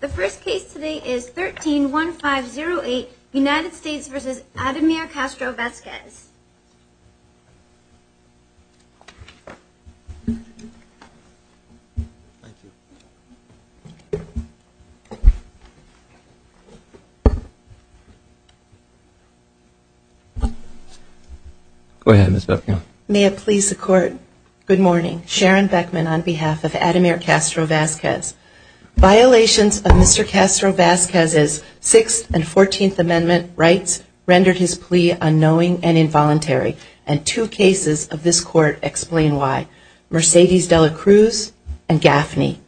The first case today is 13-1508, United States v. Ademir Castro-Vazquez. Go ahead, Ms. Beckman. May it please the Court, good morning. Sharon Beckman on behalf of Ademir Castro-Vazquez. Violations of Mr. Castro-Vazquez's Sixth and Fourteenth Amendment rights rendered his plea unknowing and involuntary. And two cases of this Court explain why. Mercedes de la Cruz and Gaffney.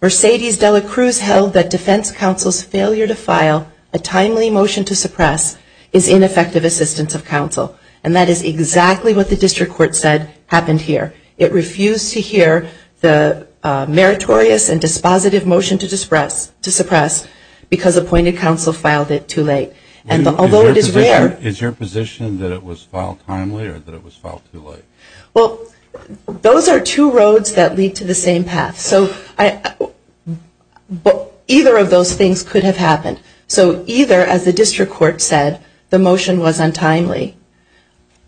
Mercedes de la Cruz held that defense counsel's failure to file a timely motion to suppress is ineffective assistance of counsel. And that is exactly what the District Court said happened here. It refused to hear the meritorious and dispositive motion to suppress because appointed counsel filed it too late. Although it is rare... Is your position that it was filed timely or that it was filed too late? Well, those are two roads that lead to the same path. Either of those things could have happened. So either, as the District Court said, the motion was untimely.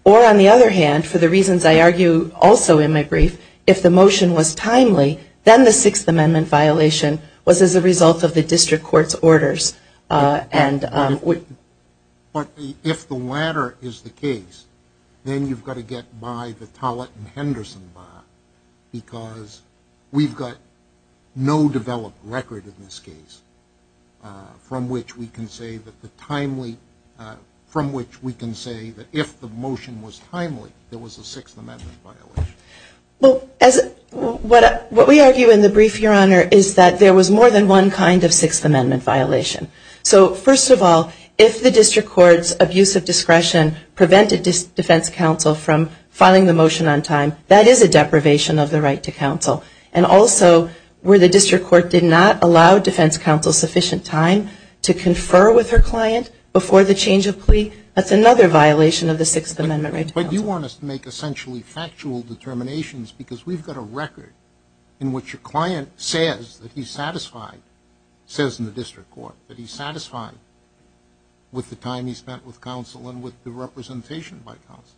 Or, on the other hand, for the reasons I argue also in my brief, if the motion was timely, then the Sixth Amendment violation was as a result of the District Court's orders. But if the latter is the case, then you've got to get by the Tollett and Henderson law because we've got no developed record in this case from which we can say that if the motion was timely, there was a Sixth Amendment violation. What we argue in the brief, Your Honor, is that there was more than one kind of Sixth Amendment violation. So, first of all, if the District Court's abuse of discretion prevented defense counsel from filing the motion on time, that is a deprivation of the right to counsel. And also, where the District Court did not allow defense counsel sufficient time to confer with her client before the change of plea, that's another violation of the Sixth Amendment right to counsel. But you want us to make essentially factual determinations because we've got a record in which a client says that he's satisfied, says in the District Court, that he's satisfied with the time he spent with counsel and with the representation by counsel.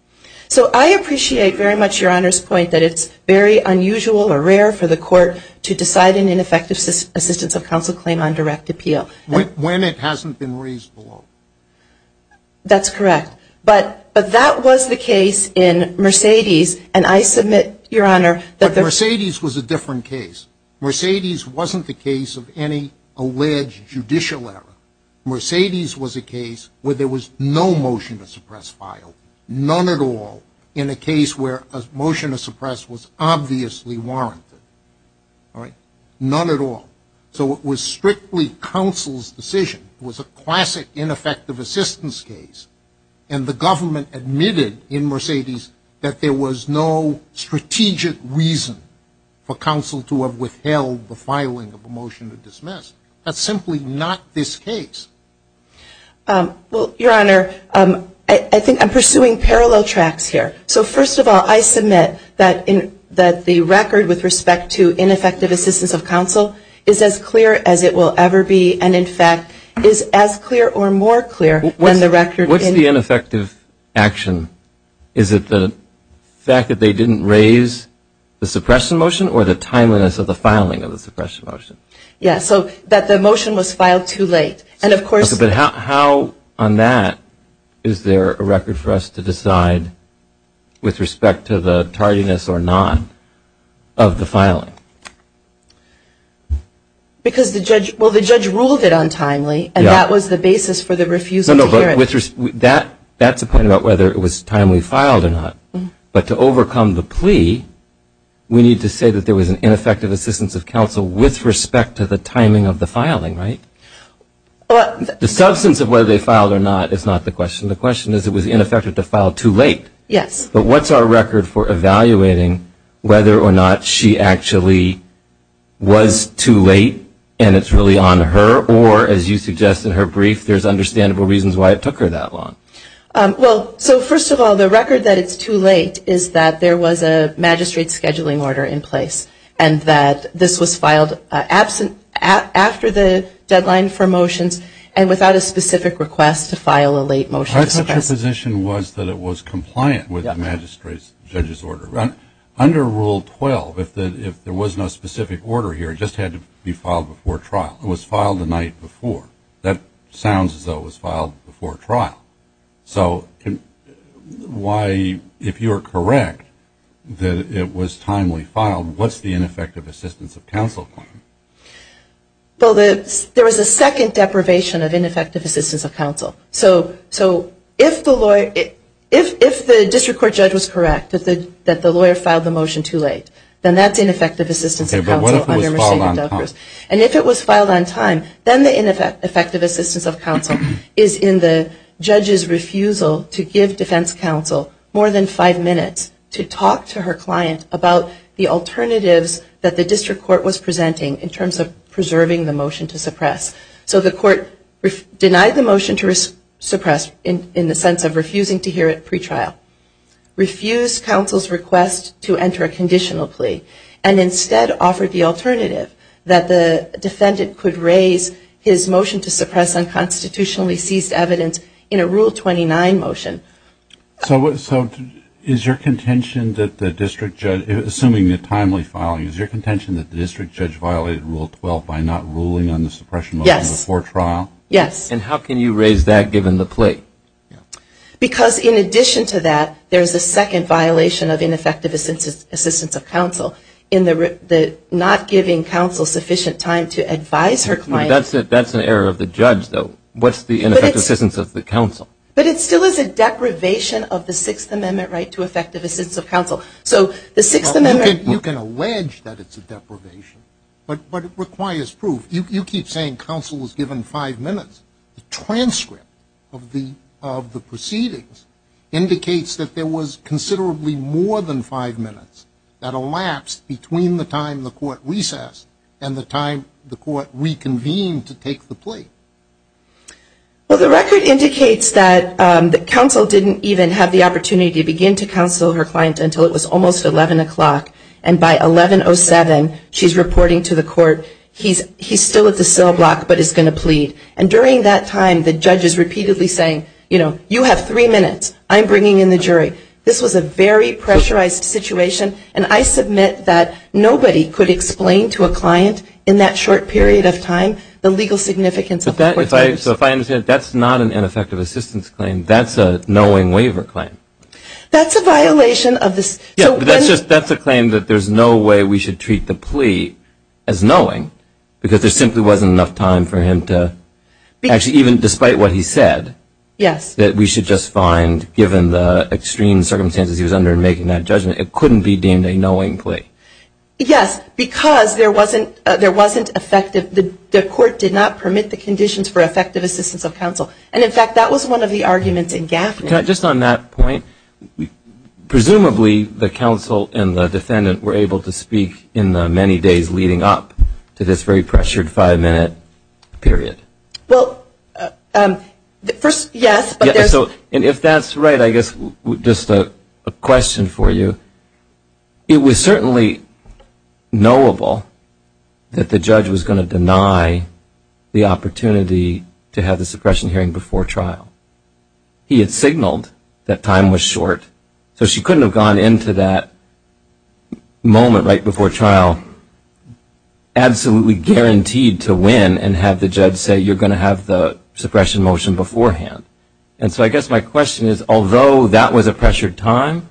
So, I appreciate very much Your Honor's point that it's very unusual or rare for the court to decide an ineffective assistance of counsel claim on direct appeal. When it hasn't been raised below. That's correct. But that was the case in Mercedes and I submit, Your Honor, But Mercedes was a different case. Mercedes wasn't the case of any alleged judicial error. Mercedes was a case where there was no motion to suppress file. None at all in a case where a motion to suppress was obviously warranted. None at all. So, it was strictly counsel's decision. It was a classic ineffective assistance case. And the government admitted in Mercedes that there was no strategic reason for counsel to have withheld the filing of a motion to dismiss. That's simply not this case. Well, Your Honor, I think I'm pursuing parallel tracks here. So, first of all, I submit that the record with respect to ineffective assistance of counsel is as clear as it will ever be. And, in fact, is as clear or more clear when the record What's the ineffective action? Is it the fact that they didn't raise the suppression motion or the timeliness of the filing of the suppression motion? Yes. So, that the motion was filed too late. But how on that is there a record for us to decide with respect to the tardiness or not of the filing? Because the judge ruled it untimely and that was the basis for the refusal to hear it. That's a point about whether it was timely filed or not. But to overcome the plea, we need to say that there was an ineffective assistance of counsel with respect to the timing of the filing, right? The substance of whether they filed or not is not the question. The question is it was ineffective to file too late. Yes. But what's our record for evaluating whether or not she actually was too late and it's really on her or, as you suggest in her brief, there's understandable reasons why it took her that long. Well, so, first of all, the record that it's too late is that there was a magistrate scheduling order in place and that this was filed after the deadline for motions and without a specific request to file a late motion. I thought your position was that it was compliant with the magistrate's judge's order. Under Rule 12, if there was no specific order here, it just had to be filed before trial. It was filed the night before. That sounds as though it was filed before trial. So why, if you're correct, that it was timely filed, what's the ineffective assistance of counsel claim? Well, there was a second deprivation of ineffective assistance of counsel. So if the district court judge was correct that the lawyer filed the motion too late, then that's ineffective assistance of counsel. Okay, but what if it was filed on time? And if it was filed on time, then the ineffective assistance of counsel is in the judge's refusal to give defense counsel more than five minutes to talk to her client about the alternatives that the district court was presenting in terms of preserving the motion to suppress. So the court denied the motion to suppress in the sense of refusing to hear it pretrial, refused counsel's request to enter a conditional plea, and instead offered the alternative that the defendant could raise his motion to suppress unconstitutionally seized evidence in a Rule 29 motion. So is your contention that the district judge, assuming the timely filing, is your contention that the district judge violated Rule 12 by not ruling on the suppression motion before trial? Yes. And how can you raise that given the plea? Because in addition to that, there's a second violation of ineffective assistance of counsel in the not giving counsel sufficient time to advise her client. That's an error of the judge, though. What's the ineffective assistance of the counsel? But it still is a deprivation of the Sixth Amendment right to effective assistance of counsel. So the Sixth Amendment. You can allege that it's a deprivation, but it requires proof. You keep saying counsel was given five minutes. The transcript of the proceedings indicates that there was considerably more than five minutes that elapsed between the time the court recessed and the time the court reconvened to take the plea. Well, the record indicates that counsel didn't even have the opportunity to begin to counsel her client until it was almost 11 o'clock. And by 11.07, she's reporting to the court, he's still at the cell block but is going to plead. And during that time, the judge is repeatedly saying, you know, you have three minutes. I'm bringing in the jury. This was a very pressurized situation. And I submit that nobody could explain to a client in that short period of time the legal significance of court time. So if I understand, that's not an ineffective assistance claim. That's a knowing waiver claim. That's a violation of this. That's a claim that there's no way we should treat the plea as knowing, because there simply wasn't enough time for him to, actually, even despite what he said, that we should just find, given the extreme circumstances he was under in making that judgment, it couldn't be deemed a knowing plea. Yes, because there wasn't effective, the court did not permit the conditions for effective assistance of counsel. And, in fact, that was one of the arguments in Gaffney. Just on that point, presumably the counsel and the defendant were able to speak in the many days leading up to this very pressured five-minute period. Well, first, yes. And if that's right, I guess just a question for you. It was certainly knowable that the judge was going to deny the opportunity to have the suppression hearing before trial. He had signaled that time was short, so she couldn't have gone into that moment right before trial absolutely guaranteed to win and have the judge say, you're going to have the suppression motion beforehand. And so I guess my question is, although that was a pressured time,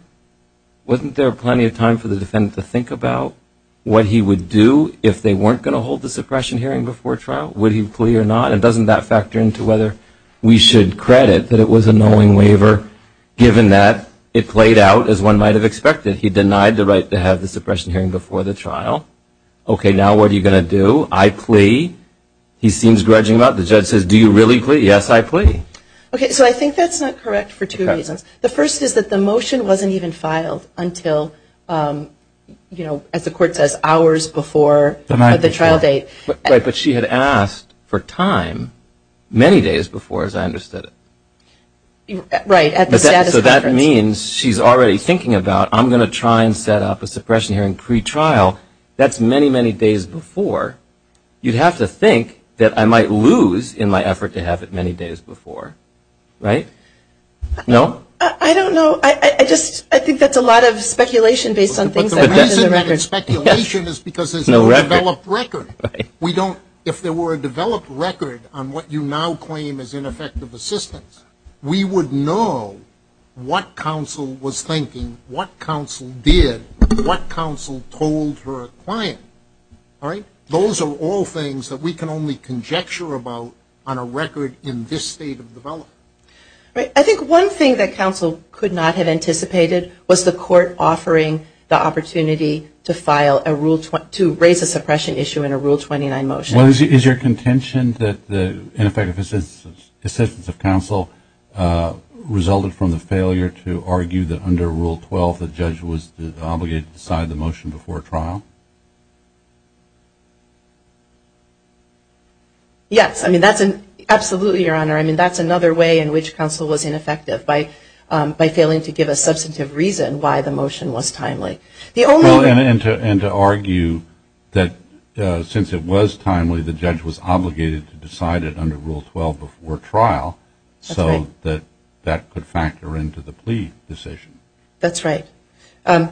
wasn't there plenty of time for the defendant to think about what he would do if they weren't going to hold the suppression hearing before trial? Would he plea or not? And doesn't that factor into whether we should credit that it was a knowing waiver given that it played out as one might have expected? He denied the right to have the suppression hearing before the trial. Okay, now what are you going to do? I plea. He seems grudging about it. The judge says, do you really plea? Yes, I plea. Okay, so I think that's not correct for two reasons. The first is that the motion wasn't even filed until, you know, as the court says, hours before the trial date. Right, but she had asked for time many days before, as I understood it. Right, at the status conference. So that means she's already thinking about, I'm going to try and set up a suppression hearing pretrial. That's many, many days before. You'd have to think that I might lose in my effort to have it many days before. Right? No? I don't know. I just think that's a lot of speculation based on things I've read in the records. And speculation is because there's no developed record. We don't, if there were a developed record on what you now claim is ineffective assistance, we would know what counsel was thinking, what counsel did, what counsel told her client. Right? Those are all things that we can only conjecture about on a record in this state of development. I think one thing that counsel could not have anticipated was the court offering the opportunity to file a rule, to raise a suppression issue in a Rule 29 motion. Is your contention that the ineffective assistance of counsel resulted from the failure to argue that under Rule 12 the judge was obligated to decide the motion before trial? Yes. Absolutely, Your Honor. That's another way in which counsel was ineffective, by failing to give a substantive reason why the motion was timely. And to argue that since it was timely, the judge was obligated to decide it under Rule 12 before trial, so that that could factor into the plea decision. That's right. I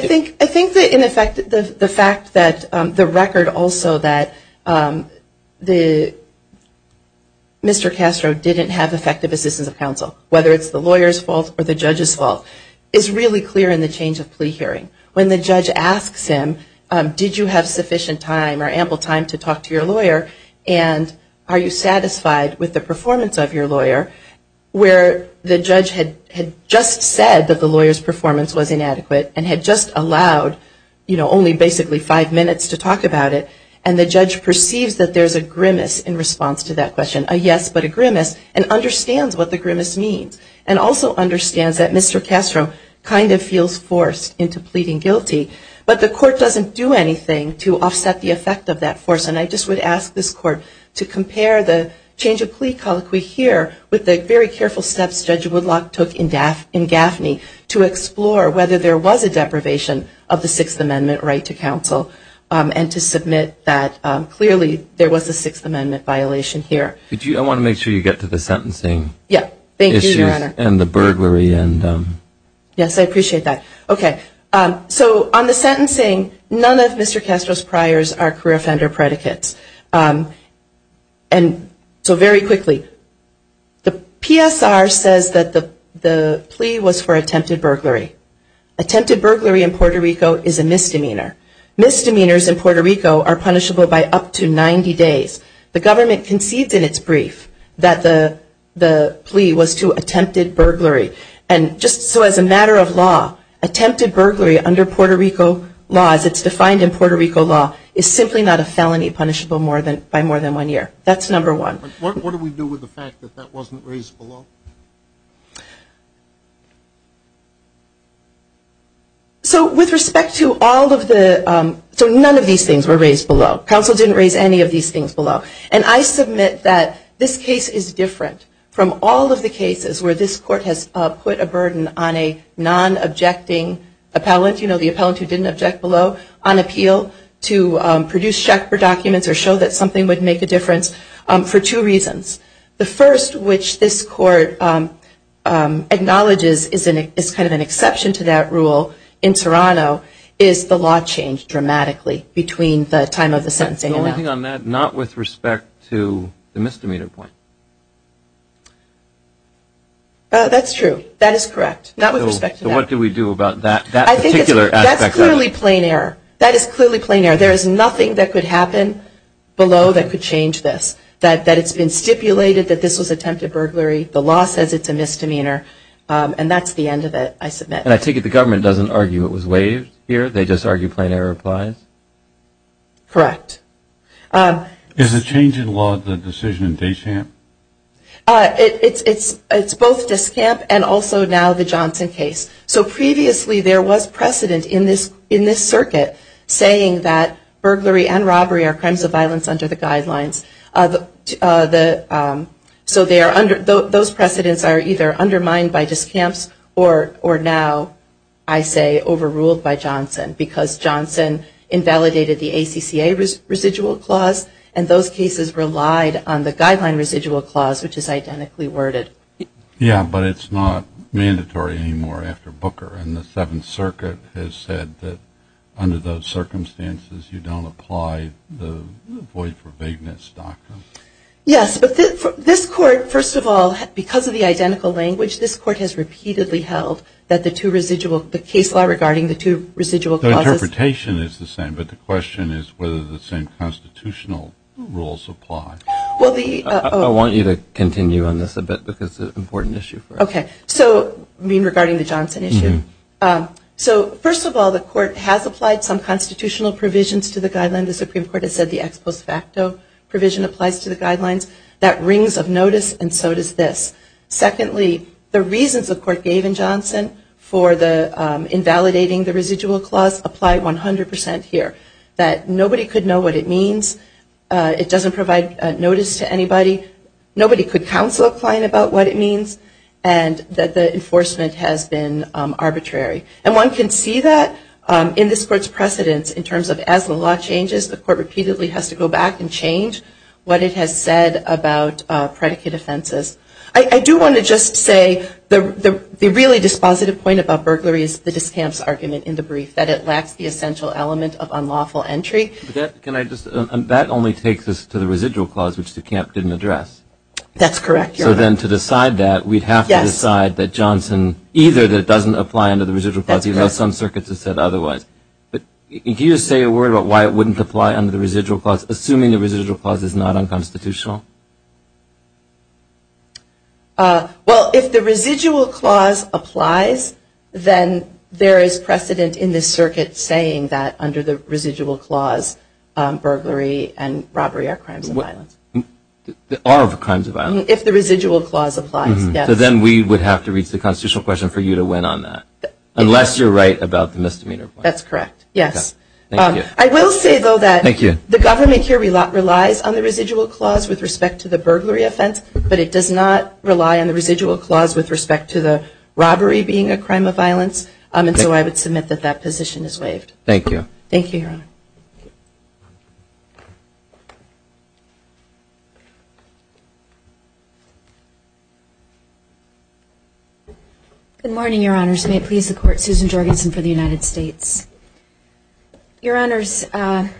think that in effect the fact that the record also that Mr. Castro didn't have effective assistance of counsel, whether it's the lawyer's fault or the judge's fault, is really clear in the change of plea hearing. When the judge asks him, did you have sufficient time or ample time to talk to your lawyer and are you satisfied with the performance of your lawyer, where the judge had just said that the lawyer's performance was inadequate and had just allowed, you know, only basically five minutes to talk about it, and the judge perceives that there's a grimace in response to that question, a yes but a grimace, and understands what the grimace means, and also understands that Mr. Castro kind of feels forced into pleading guilty. But the court doesn't do anything to offset the effect of that force. And I just would ask this court to compare the change of plea colloquy here with the very careful steps Judge Woodlock took in Gaffney to explore whether there was a deprivation of the Sixth Amendment right to counsel, and to submit that clearly there was a Sixth Amendment violation here. I want to make sure you get to the sentencing. Yeah. Thank you, Your Honor. And the burglary. Yes, I appreciate that. Okay. So on the sentencing, none of Mr. Castro's priors are career offender predicates. And so very quickly, the PSR says that the plea was for attempted burglary. Attempted burglary in Puerto Rico is a misdemeanor. Misdemeanors in Puerto Rico are punishable by up to 90 days. The government concedes in its brief that the plea was to attempted burglary. And just so as a matter of law, attempted burglary under Puerto Rico laws, it's defined in Puerto Rico law, is simply not a felony punishable by more than one year. That's number one. What do we do with the fact that that wasn't raised below? So with respect to all of the – so none of these things were raised below. Counsel didn't raise any of these things below. And I submit that this case is different from all of the cases where this court has put a burden on a non-objecting appellant, you know, the appellant who didn't object below, on appeal to produce check for documents or show that something would make a difference for two reasons. The first, which this court acknowledges is kind of an exception to that rule in Toronto is the law changed dramatically between the time of the sentencing and that. The only thing on that, not with respect to the misdemeanor point. That's true. That is correct. Not with respect to that. So what do we do about that particular aspect of it? That's clearly plain error. That is clearly plain error. There is nothing that could happen below that could change this, that it's been stipulated that this was attempted burglary. The law says it's a misdemeanor. And that's the end of it, I submit. And I take it the government doesn't argue it was waived here, they just argue plain error applies? Correct. Is the change in law the decision in Deschamps? It's both Deschamps and also now the Johnson case. So previously there was precedent in this circuit saying that burglary and robbery are crimes of violence under the guidelines. So those precedents are either undermined by Deschamps or now, I say, overruled by Johnson because Johnson invalidated the ACCA residual clause and those cases relied on the guideline residual clause which is identically worded. Yeah, but it's not mandatory anymore after Booker and the Seventh Circuit has said that under those circumstances you don't apply the void for vagueness doctrine. Yes, but this court, first of all, because of the identical language, this court has repeatedly held that the two residual, the case law regarding the two residual clauses. The interpretation is the same, but the question is whether the same constitutional rules apply. I want you to continue on this a bit because it's an important issue for us. Okay, so regarding the Johnson issue. So first of all, the court has applied some constitutional provisions to the guidelines. The Supreme Court has said the ex post facto provision applies to the guidelines. That rings of notice and so does this. Secondly, the reasons the court gave in Johnson for the invalidating the residual clause apply 100% here. That nobody could know what it means. It doesn't provide notice to anybody. Nobody could counsel a client about what it means and that the enforcement has been arbitrary. And one can see that in this court's precedence in terms of as the law changes, the court repeatedly has to go back and change what it has said about predicate offenses. I do want to just say the really dispositive point about burglary is the discamps argument in the brief, that it lacks the essential element of unlawful entry. That only takes us to the residual clause, which the camp didn't address. That's correct, Your Honor. So then to decide that, we have to decide that Johnson, either that it doesn't apply under the residual clause, even though some circuits have said otherwise. But can you say a word about why it wouldn't apply under the residual clause, assuming the residual clause is not unconstitutional? Well, if the residual clause applies, then there is precedent in this circuit saying that under the residual clause, burglary and robbery are crimes of violence. Are crimes of violence. If the residual clause applies, yes. So then we would have to reach the constitutional question for you to win on that, unless you're right about the misdemeanor point. That's correct, yes. I will say, though, that the government here relies on the residual clause with respect to the burglary offense, but it does not rely on the residual clause with respect to the robbery being a crime of violence. And so I would submit that that position is waived. Thank you. Thank you, Your Honor. Good morning, Your Honors. May it please the Court, Susan Jorgensen for the United States. Your Honors, I'm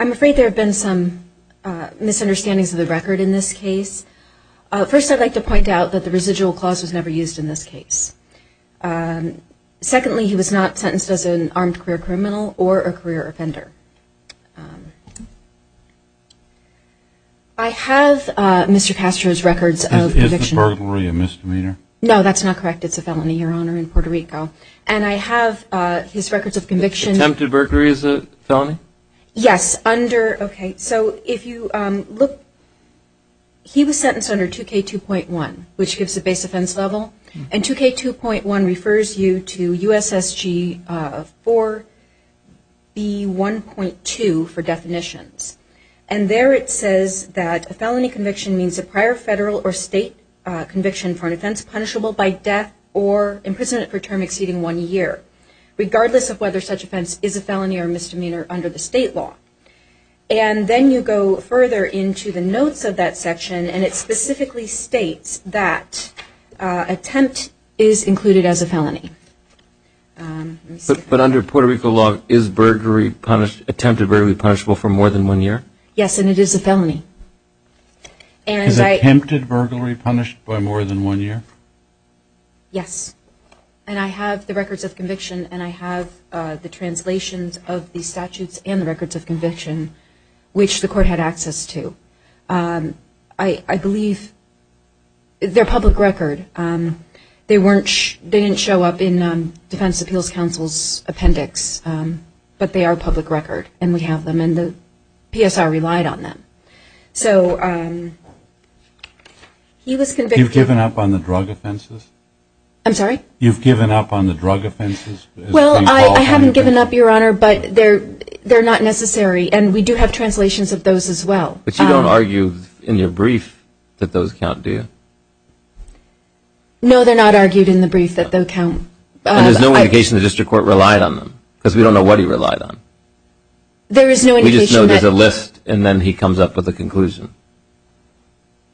afraid there have been some misunderstandings of the record in this case. First, I'd like to point out that the residual clause was never used in this case. Secondly, he was not sentenced as an armed career criminal or a career offender. I have Mr. Castro's records of conviction. Is the burglary a misdemeanor? No, that's not correct. It's a felony, Your Honor, in Puerto Rico. And I have his records of conviction. Attempted burglary is a felony? Yes. Okay. So if you look, he was sentenced under 2K2.1, which gives the base offense level. And 2K2.1 refers you to USSG 4B1.2 for definitions. And there it says that a felony conviction means a prior federal or state conviction for an offense punishable by death or imprisonment for a term exceeding one year, regardless of whether such offense is a felony or a misdemeanor under the state law. And then you go further into the notes of that section. And it specifically states that attempt is included as a felony. But under Puerto Rico law, is attempted burglary punishable for more than one year? Yes, and it is a felony. Is attempted burglary punished by more than one year? Yes. And I have the records of conviction, and I have the translations of the statutes and the records of conviction, which the court had access to. I believe they're public record. They didn't show up in Defense Appeals Council's appendix, but they are public record. And we have them, and the PSR relied on them. So he was convicted. You've given up on the drug offenses? I'm sorry? You've given up on the drug offenses? Well, I haven't given up, Your Honor, but they're not necessary, and we do have translations of those as well. But you don't argue in your brief that those count, do you? No, they're not argued in the brief that they count. And there's no indication the district court relied on them? Because we don't know what he relied on. There is no indication. We just know there's a list, and then he comes up with a conclusion.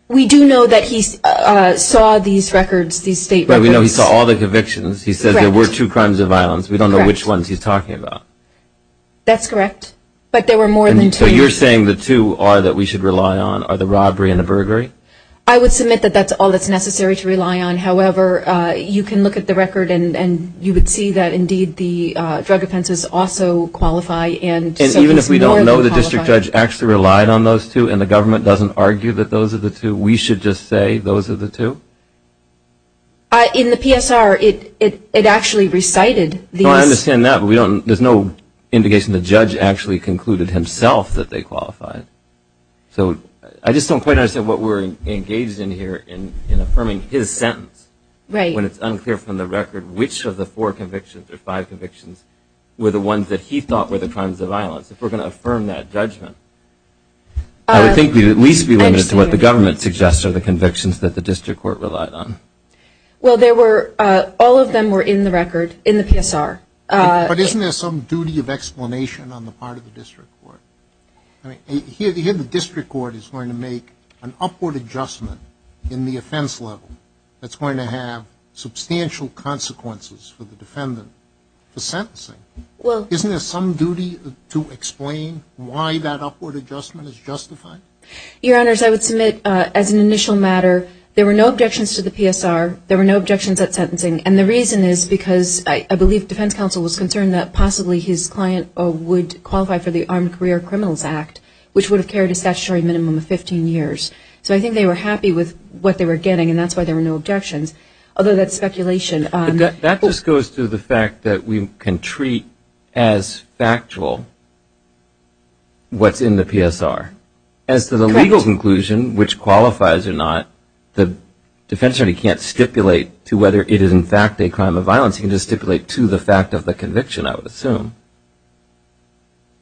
We do know that he saw these records, these state records. Right, we know he saw all the convictions. He said there were two crimes of violence. We don't know which ones he's talking about. That's correct, but there were more than two. So you're saying the two are that we should rely on are the robbery and the burglary? I would submit that that's all that's necessary to rely on. However, you can look at the record, and you would see that, indeed, the drug offenses also qualify. And even if we don't know the district judge actually relied on those two and the government doesn't argue that those are the two, we should just say those are the two? In the PSR, it actually recited these. No, I understand that, but there's no indication the judge actually concluded himself that they qualified. So I just don't quite understand what we're engaged in here in affirming his sentence. Right. When it's unclear from the record which of the four convictions or five convictions were the ones that he thought were the crimes of violence, if we're going to affirm that judgment, I would think we'd at least be limited to what the government suggests are the convictions that the district court relied on. Well, all of them were in the record in the PSR. But isn't there some duty of explanation on the part of the district court? I mean, here the district court is going to make an upward adjustment in the offense level that's going to have substantial consequences for the defendant for sentencing. Isn't there some duty to explain why that upward adjustment is justified? Your Honors, I would submit as an initial matter there were no objections to the PSR, there were no objections at sentencing, and the reason is because I believe defense counsel was concerned that possibly his client would qualify for the Armed Career Criminals Act, which would have carried a statutory minimum of 15 years. So I think they were happy with what they were getting, and that's why there were no objections. Although that's speculation. That just goes to the fact that we can treat as factual what's in the PSR. Correct. As to the legal conclusion, which qualifies or not, the defense attorney can't stipulate to whether it is in fact a crime of violence, he can just stipulate to the fact of the conviction, I would assume.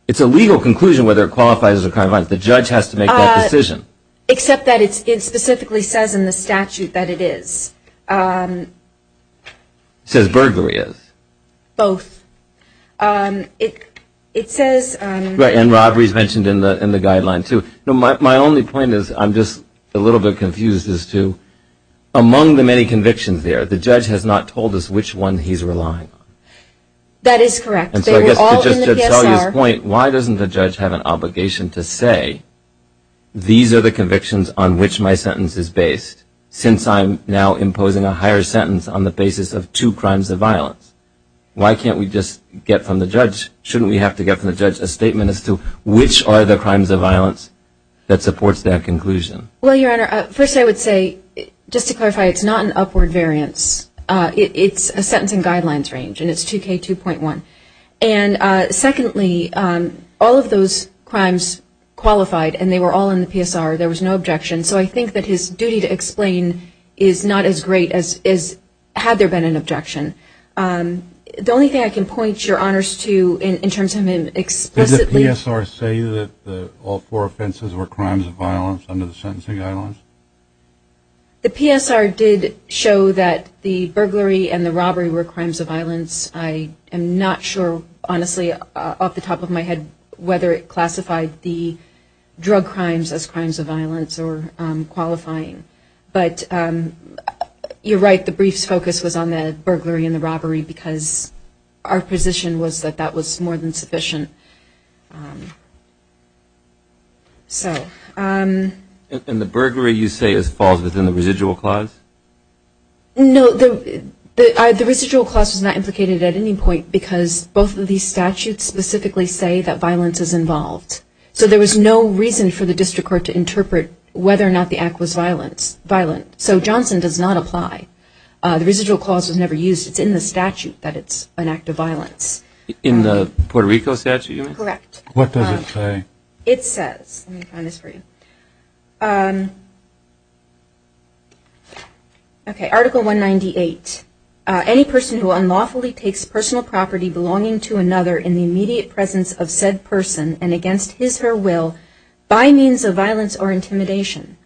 It's a legal conclusion whether it qualifies as a crime of violence. The judge has to make that decision. Except that it specifically says in the statute that it is. It says burglary is. Both. It says... And robbery is mentioned in the guideline, too. My only point is, I'm just a little bit confused as to, among the many convictions there, the judge has not told us which one he's relying on. That is correct. Why doesn't the judge have an obligation to say, these are the convictions on which my sentence is based, since I'm now imposing a higher sentence on the basis of two crimes of violence? Why can't we just get from the judge, shouldn't we have to get from the judge a statement as to which are the crimes of violence that supports that conclusion? Well, Your Honor, first I would say, just to clarify, it's not an upward variance. It's a sentencing guidelines range, and it's 2K2.1. And secondly, all of those crimes qualified, and they were all in the PSR. There was no objection. So I think that his duty to explain is not as great as had there been an objection. The only thing I can point Your Honors to in terms of him explicitly... Did the PSR say that all four offenses were crimes of violence under the sentencing guidelines? The PSR did show that the burglary and the robbery were crimes of violence. I am not sure, honestly, off the top of my head, whether it classified the drug crimes as crimes of violence or qualifying. But you're right, the brief's focus was on the burglary and the robbery, because our position was that that was more than sufficient. And the burglary, you say, falls within the residual clause? No, the residual clause is not implicated at any point because both of these statutes specifically say that violence is involved. So there was no reason for the district court to interpret whether or not the act was violent. So Johnson does not apply. The residual clause was never used. It's in the statute that it's an act of violence. In the Puerto Rico statute? Correct. What does it say? It says, let me find this for you. Okay, Article 198. Any person who unlawfully takes personal property belonging to another in the immediate presence of said person and against his or her will by means of violence or intimidation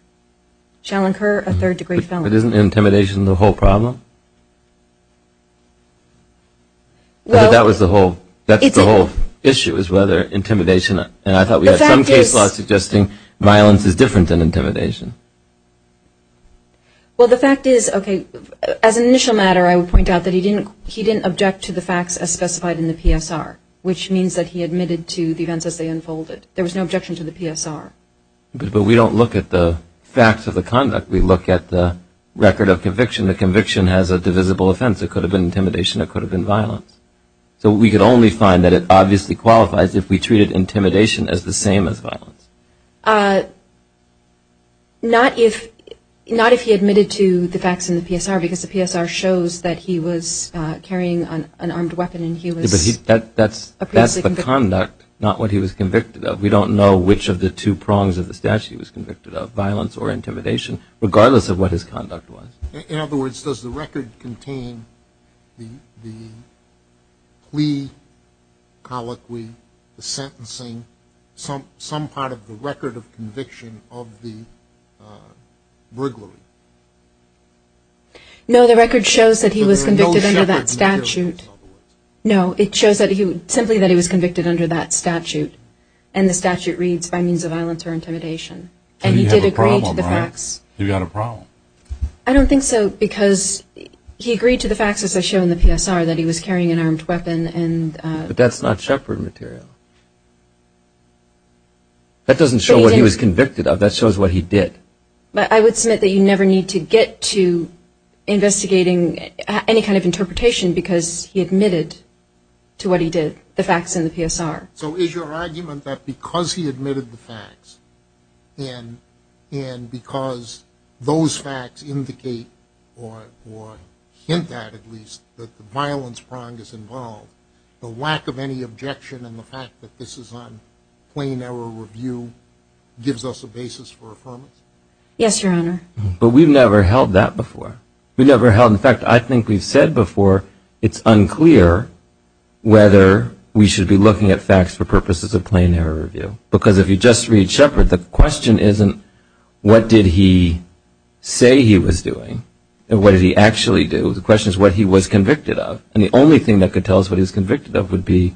shall incur a third-degree felony. But isn't intimidation the whole problem? That's the whole issue is whether intimidation. And I thought we had some case law suggesting violence is different than intimidation. Well, the fact is, okay, as an initial matter, I would point out that he didn't object to the facts as specified in the PSR, which means that he admitted to the events as they unfolded. There was no objection to the PSR. But we don't look at the facts of the conduct. We look at the record of conviction. It could have been intimidation. The conviction has a divisible offense. It could have been intimidation. It could have been violence. So we could only find that it obviously qualifies if we treated intimidation as the same as violence. Not if he admitted to the facts in the PSR because the PSR shows that he was carrying an armed weapon and he was. That's the conduct, not what he was convicted of. We don't know which of the two prongs of the statute he was convicted of, violence or intimidation, regardless of what his conduct was. In other words, does the record contain the plea, colloquy, the sentencing, some part of the record of conviction of the briglary? No, the record shows that he was convicted under that statute. No, it shows simply that he was convicted under that statute. And the statute reads, by means of violence or intimidation. And he did agree to the facts. You've got a problem, right? You've got a problem. I don't think so because he agreed to the facts, as I show in the PSR, that he was carrying an armed weapon. But that's not Shepard material. That doesn't show what he was convicted of. That shows what he did. But I would submit that you never need to get to investigating any kind of interpretation because he admitted to what he did, the facts in the PSR. So is your argument that because he admitted the facts and because those facts indicate or hint at least that the violence prong is involved, the lack of any objection and the fact that this is on plain error review gives us a basis for affirmation? Yes, Your Honor. But we've never held that before. We've never held, in fact, I think we've said before, it's unclear whether we should be looking at facts for purposes of plain error review. Because if you just read Shepard, the question isn't what did he say he was doing and what did he actually do. The question is what he was convicted of. And the only thing that could tell us what he was convicted of would be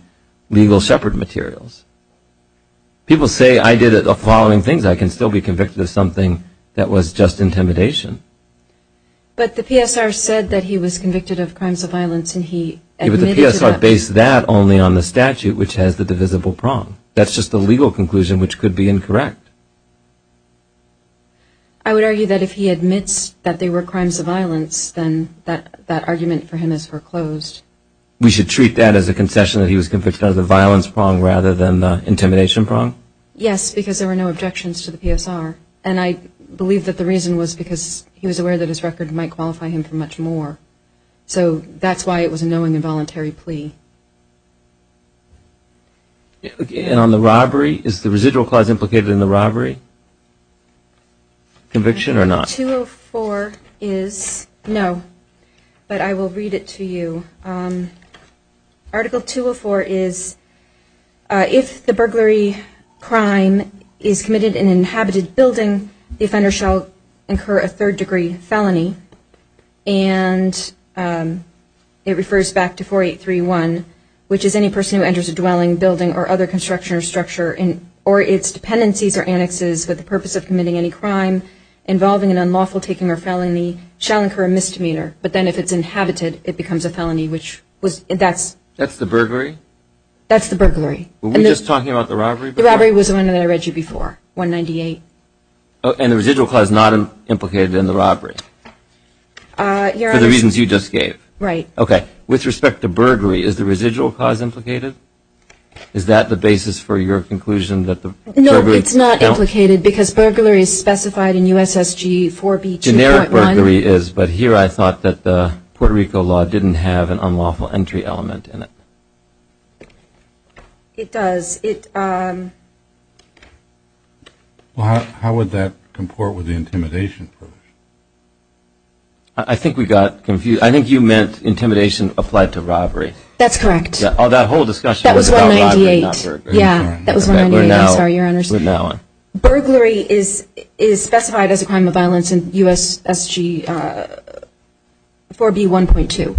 legal Shepard materials. People say I did the following things. I can still be convicted of something that was just intimidation. But the PSR said that he was convicted of crimes of violence and he admitted to that. But the PSR based that only on the statute, which has the divisible prong. That's just the legal conclusion, which could be incorrect. I would argue that if he admits that they were crimes of violence, then that argument for him is foreclosed. We should treat that as a concession that he was convicted of the violence prong rather than the intimidation prong? Yes, because there were no objections to the PSR. And I believe that the reason was because he was aware that his record might qualify him for much more. So that's why it was a knowing and voluntary plea. And on the robbery, is the residual clause implicated in the robbery conviction or not? Article 204 is, no, but I will read it to you. Article 204 is, if the burglary crime is committed in an inhabited building, the offender shall incur a third degree felony. And it refers back to 4831, which is any person who enters a dwelling, building, or other construction or structure or its dependencies or annexes with the purpose of committing any crime involving an unlawful taking or felony shall incur a misdemeanor. But then if it's inhabited, it becomes a felony. That's the burglary? That's the burglary. Were we just talking about the robbery? The robbery was the one that I read to you before, 198. And the residual clause is not implicated in the robbery for the reasons you just gave? Right. Okay. With respect to burglary, is the residual clause implicated? Is that the basis for your conclusion that the burglary? No, it's not implicated because burglary is specified in USSG 4B 2.1. Burglary is, but here I thought that the Puerto Rico law didn't have an unlawful entry element in it. It does. How would that comport with the intimidation approach? I think we got confused. I think you meant intimidation applied to robbery. That's correct. That whole discussion was about robbery, not burglary. Yeah, that was 198. We're now on. Burglary is specified as a crime of violence in USSG 4B 1.2.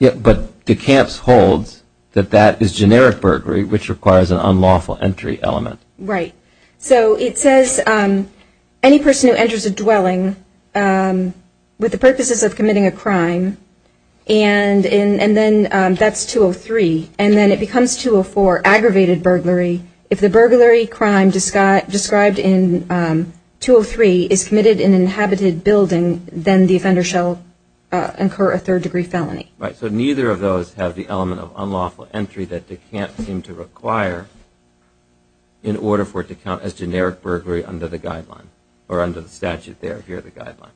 Yeah, but DeCamps holds that that is generic burglary, which requires an unlawful entry element. Right. So it says any person who enters a dwelling with the purposes of committing a crime, and then that's 203. And then it becomes 204, aggravated burglary. If the burglary crime described in 203 is committed in an inhabited building, then the offender shall incur a third-degree felony. Right. So neither of those have the element of unlawful entry that DeCamps seemed to require in order for it to count as generic burglary under the guideline, or under the statute there, here, the guideline.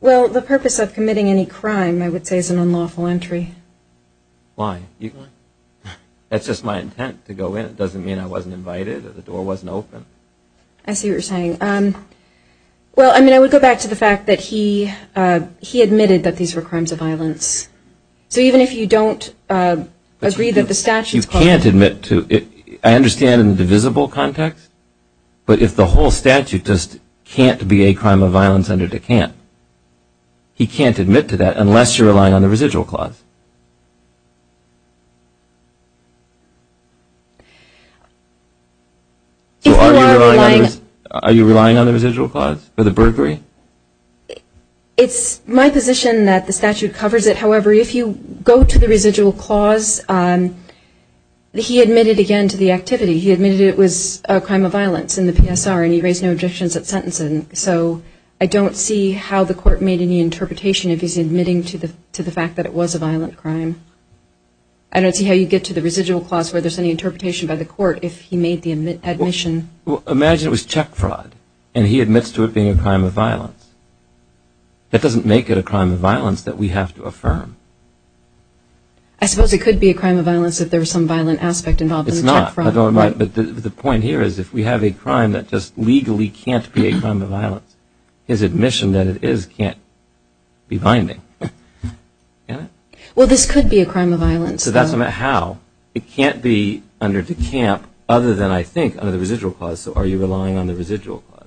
Well, the purpose of committing any crime, I would say, is an unlawful entry. Why? That's just my intent to go in. It doesn't mean I wasn't invited, or the door wasn't open. I see what you're saying. Well, I mean, I would go back to the fact that he admitted that these were crimes of violence. So even if you don't agree that the statute's causing it. You can't admit to it. I understand in the divisible context, but if the whole statute just can't be a crime of violence under DeCamps, he can't admit to that unless you're relying on the residual clause. If you are relying on the residual clause for the burglary? It's my position that the statute covers it. However, if you go to the residual clause, he admitted again to the activity. He admitted it was a crime of violence in the PSR, and he raised no objections at sentencing. So I don't see how the court made any interpretation if he's admitting to the fact that it was a violent crime. I don't see how you get to the residual clause where there's any interpretation by the court if he made the admission. Well, imagine it was check fraud, and he admits to it being a crime of violence. That doesn't make it a crime of violence that we have to affirm. I suppose it could be a crime of violence if there was some violent aspect involved in the check fraud. But the point here is if we have a crime that just legally can't be a crime of violence, his admission that it is can't be binding. Well, this could be a crime of violence. So that's not how. It can't be under DeCamps other than, I think, under the residual clause. So are you relying on the residual clause?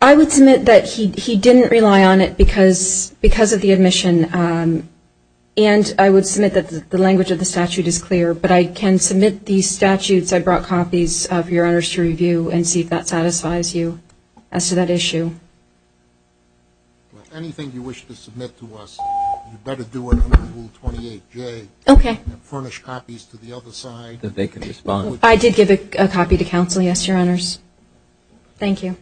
I would submit that he didn't rely on it because of the admission, and I would submit that the language of the statute is clear, but I can submit these statutes I brought copies of, Your Honors, to review and see if that satisfies you as to that issue. Anything you wish to submit to us, you better do it under Rule 28J. Okay. And furnish copies to the other side. I did give a copy to counsel, yes, Your Honors. Thank you.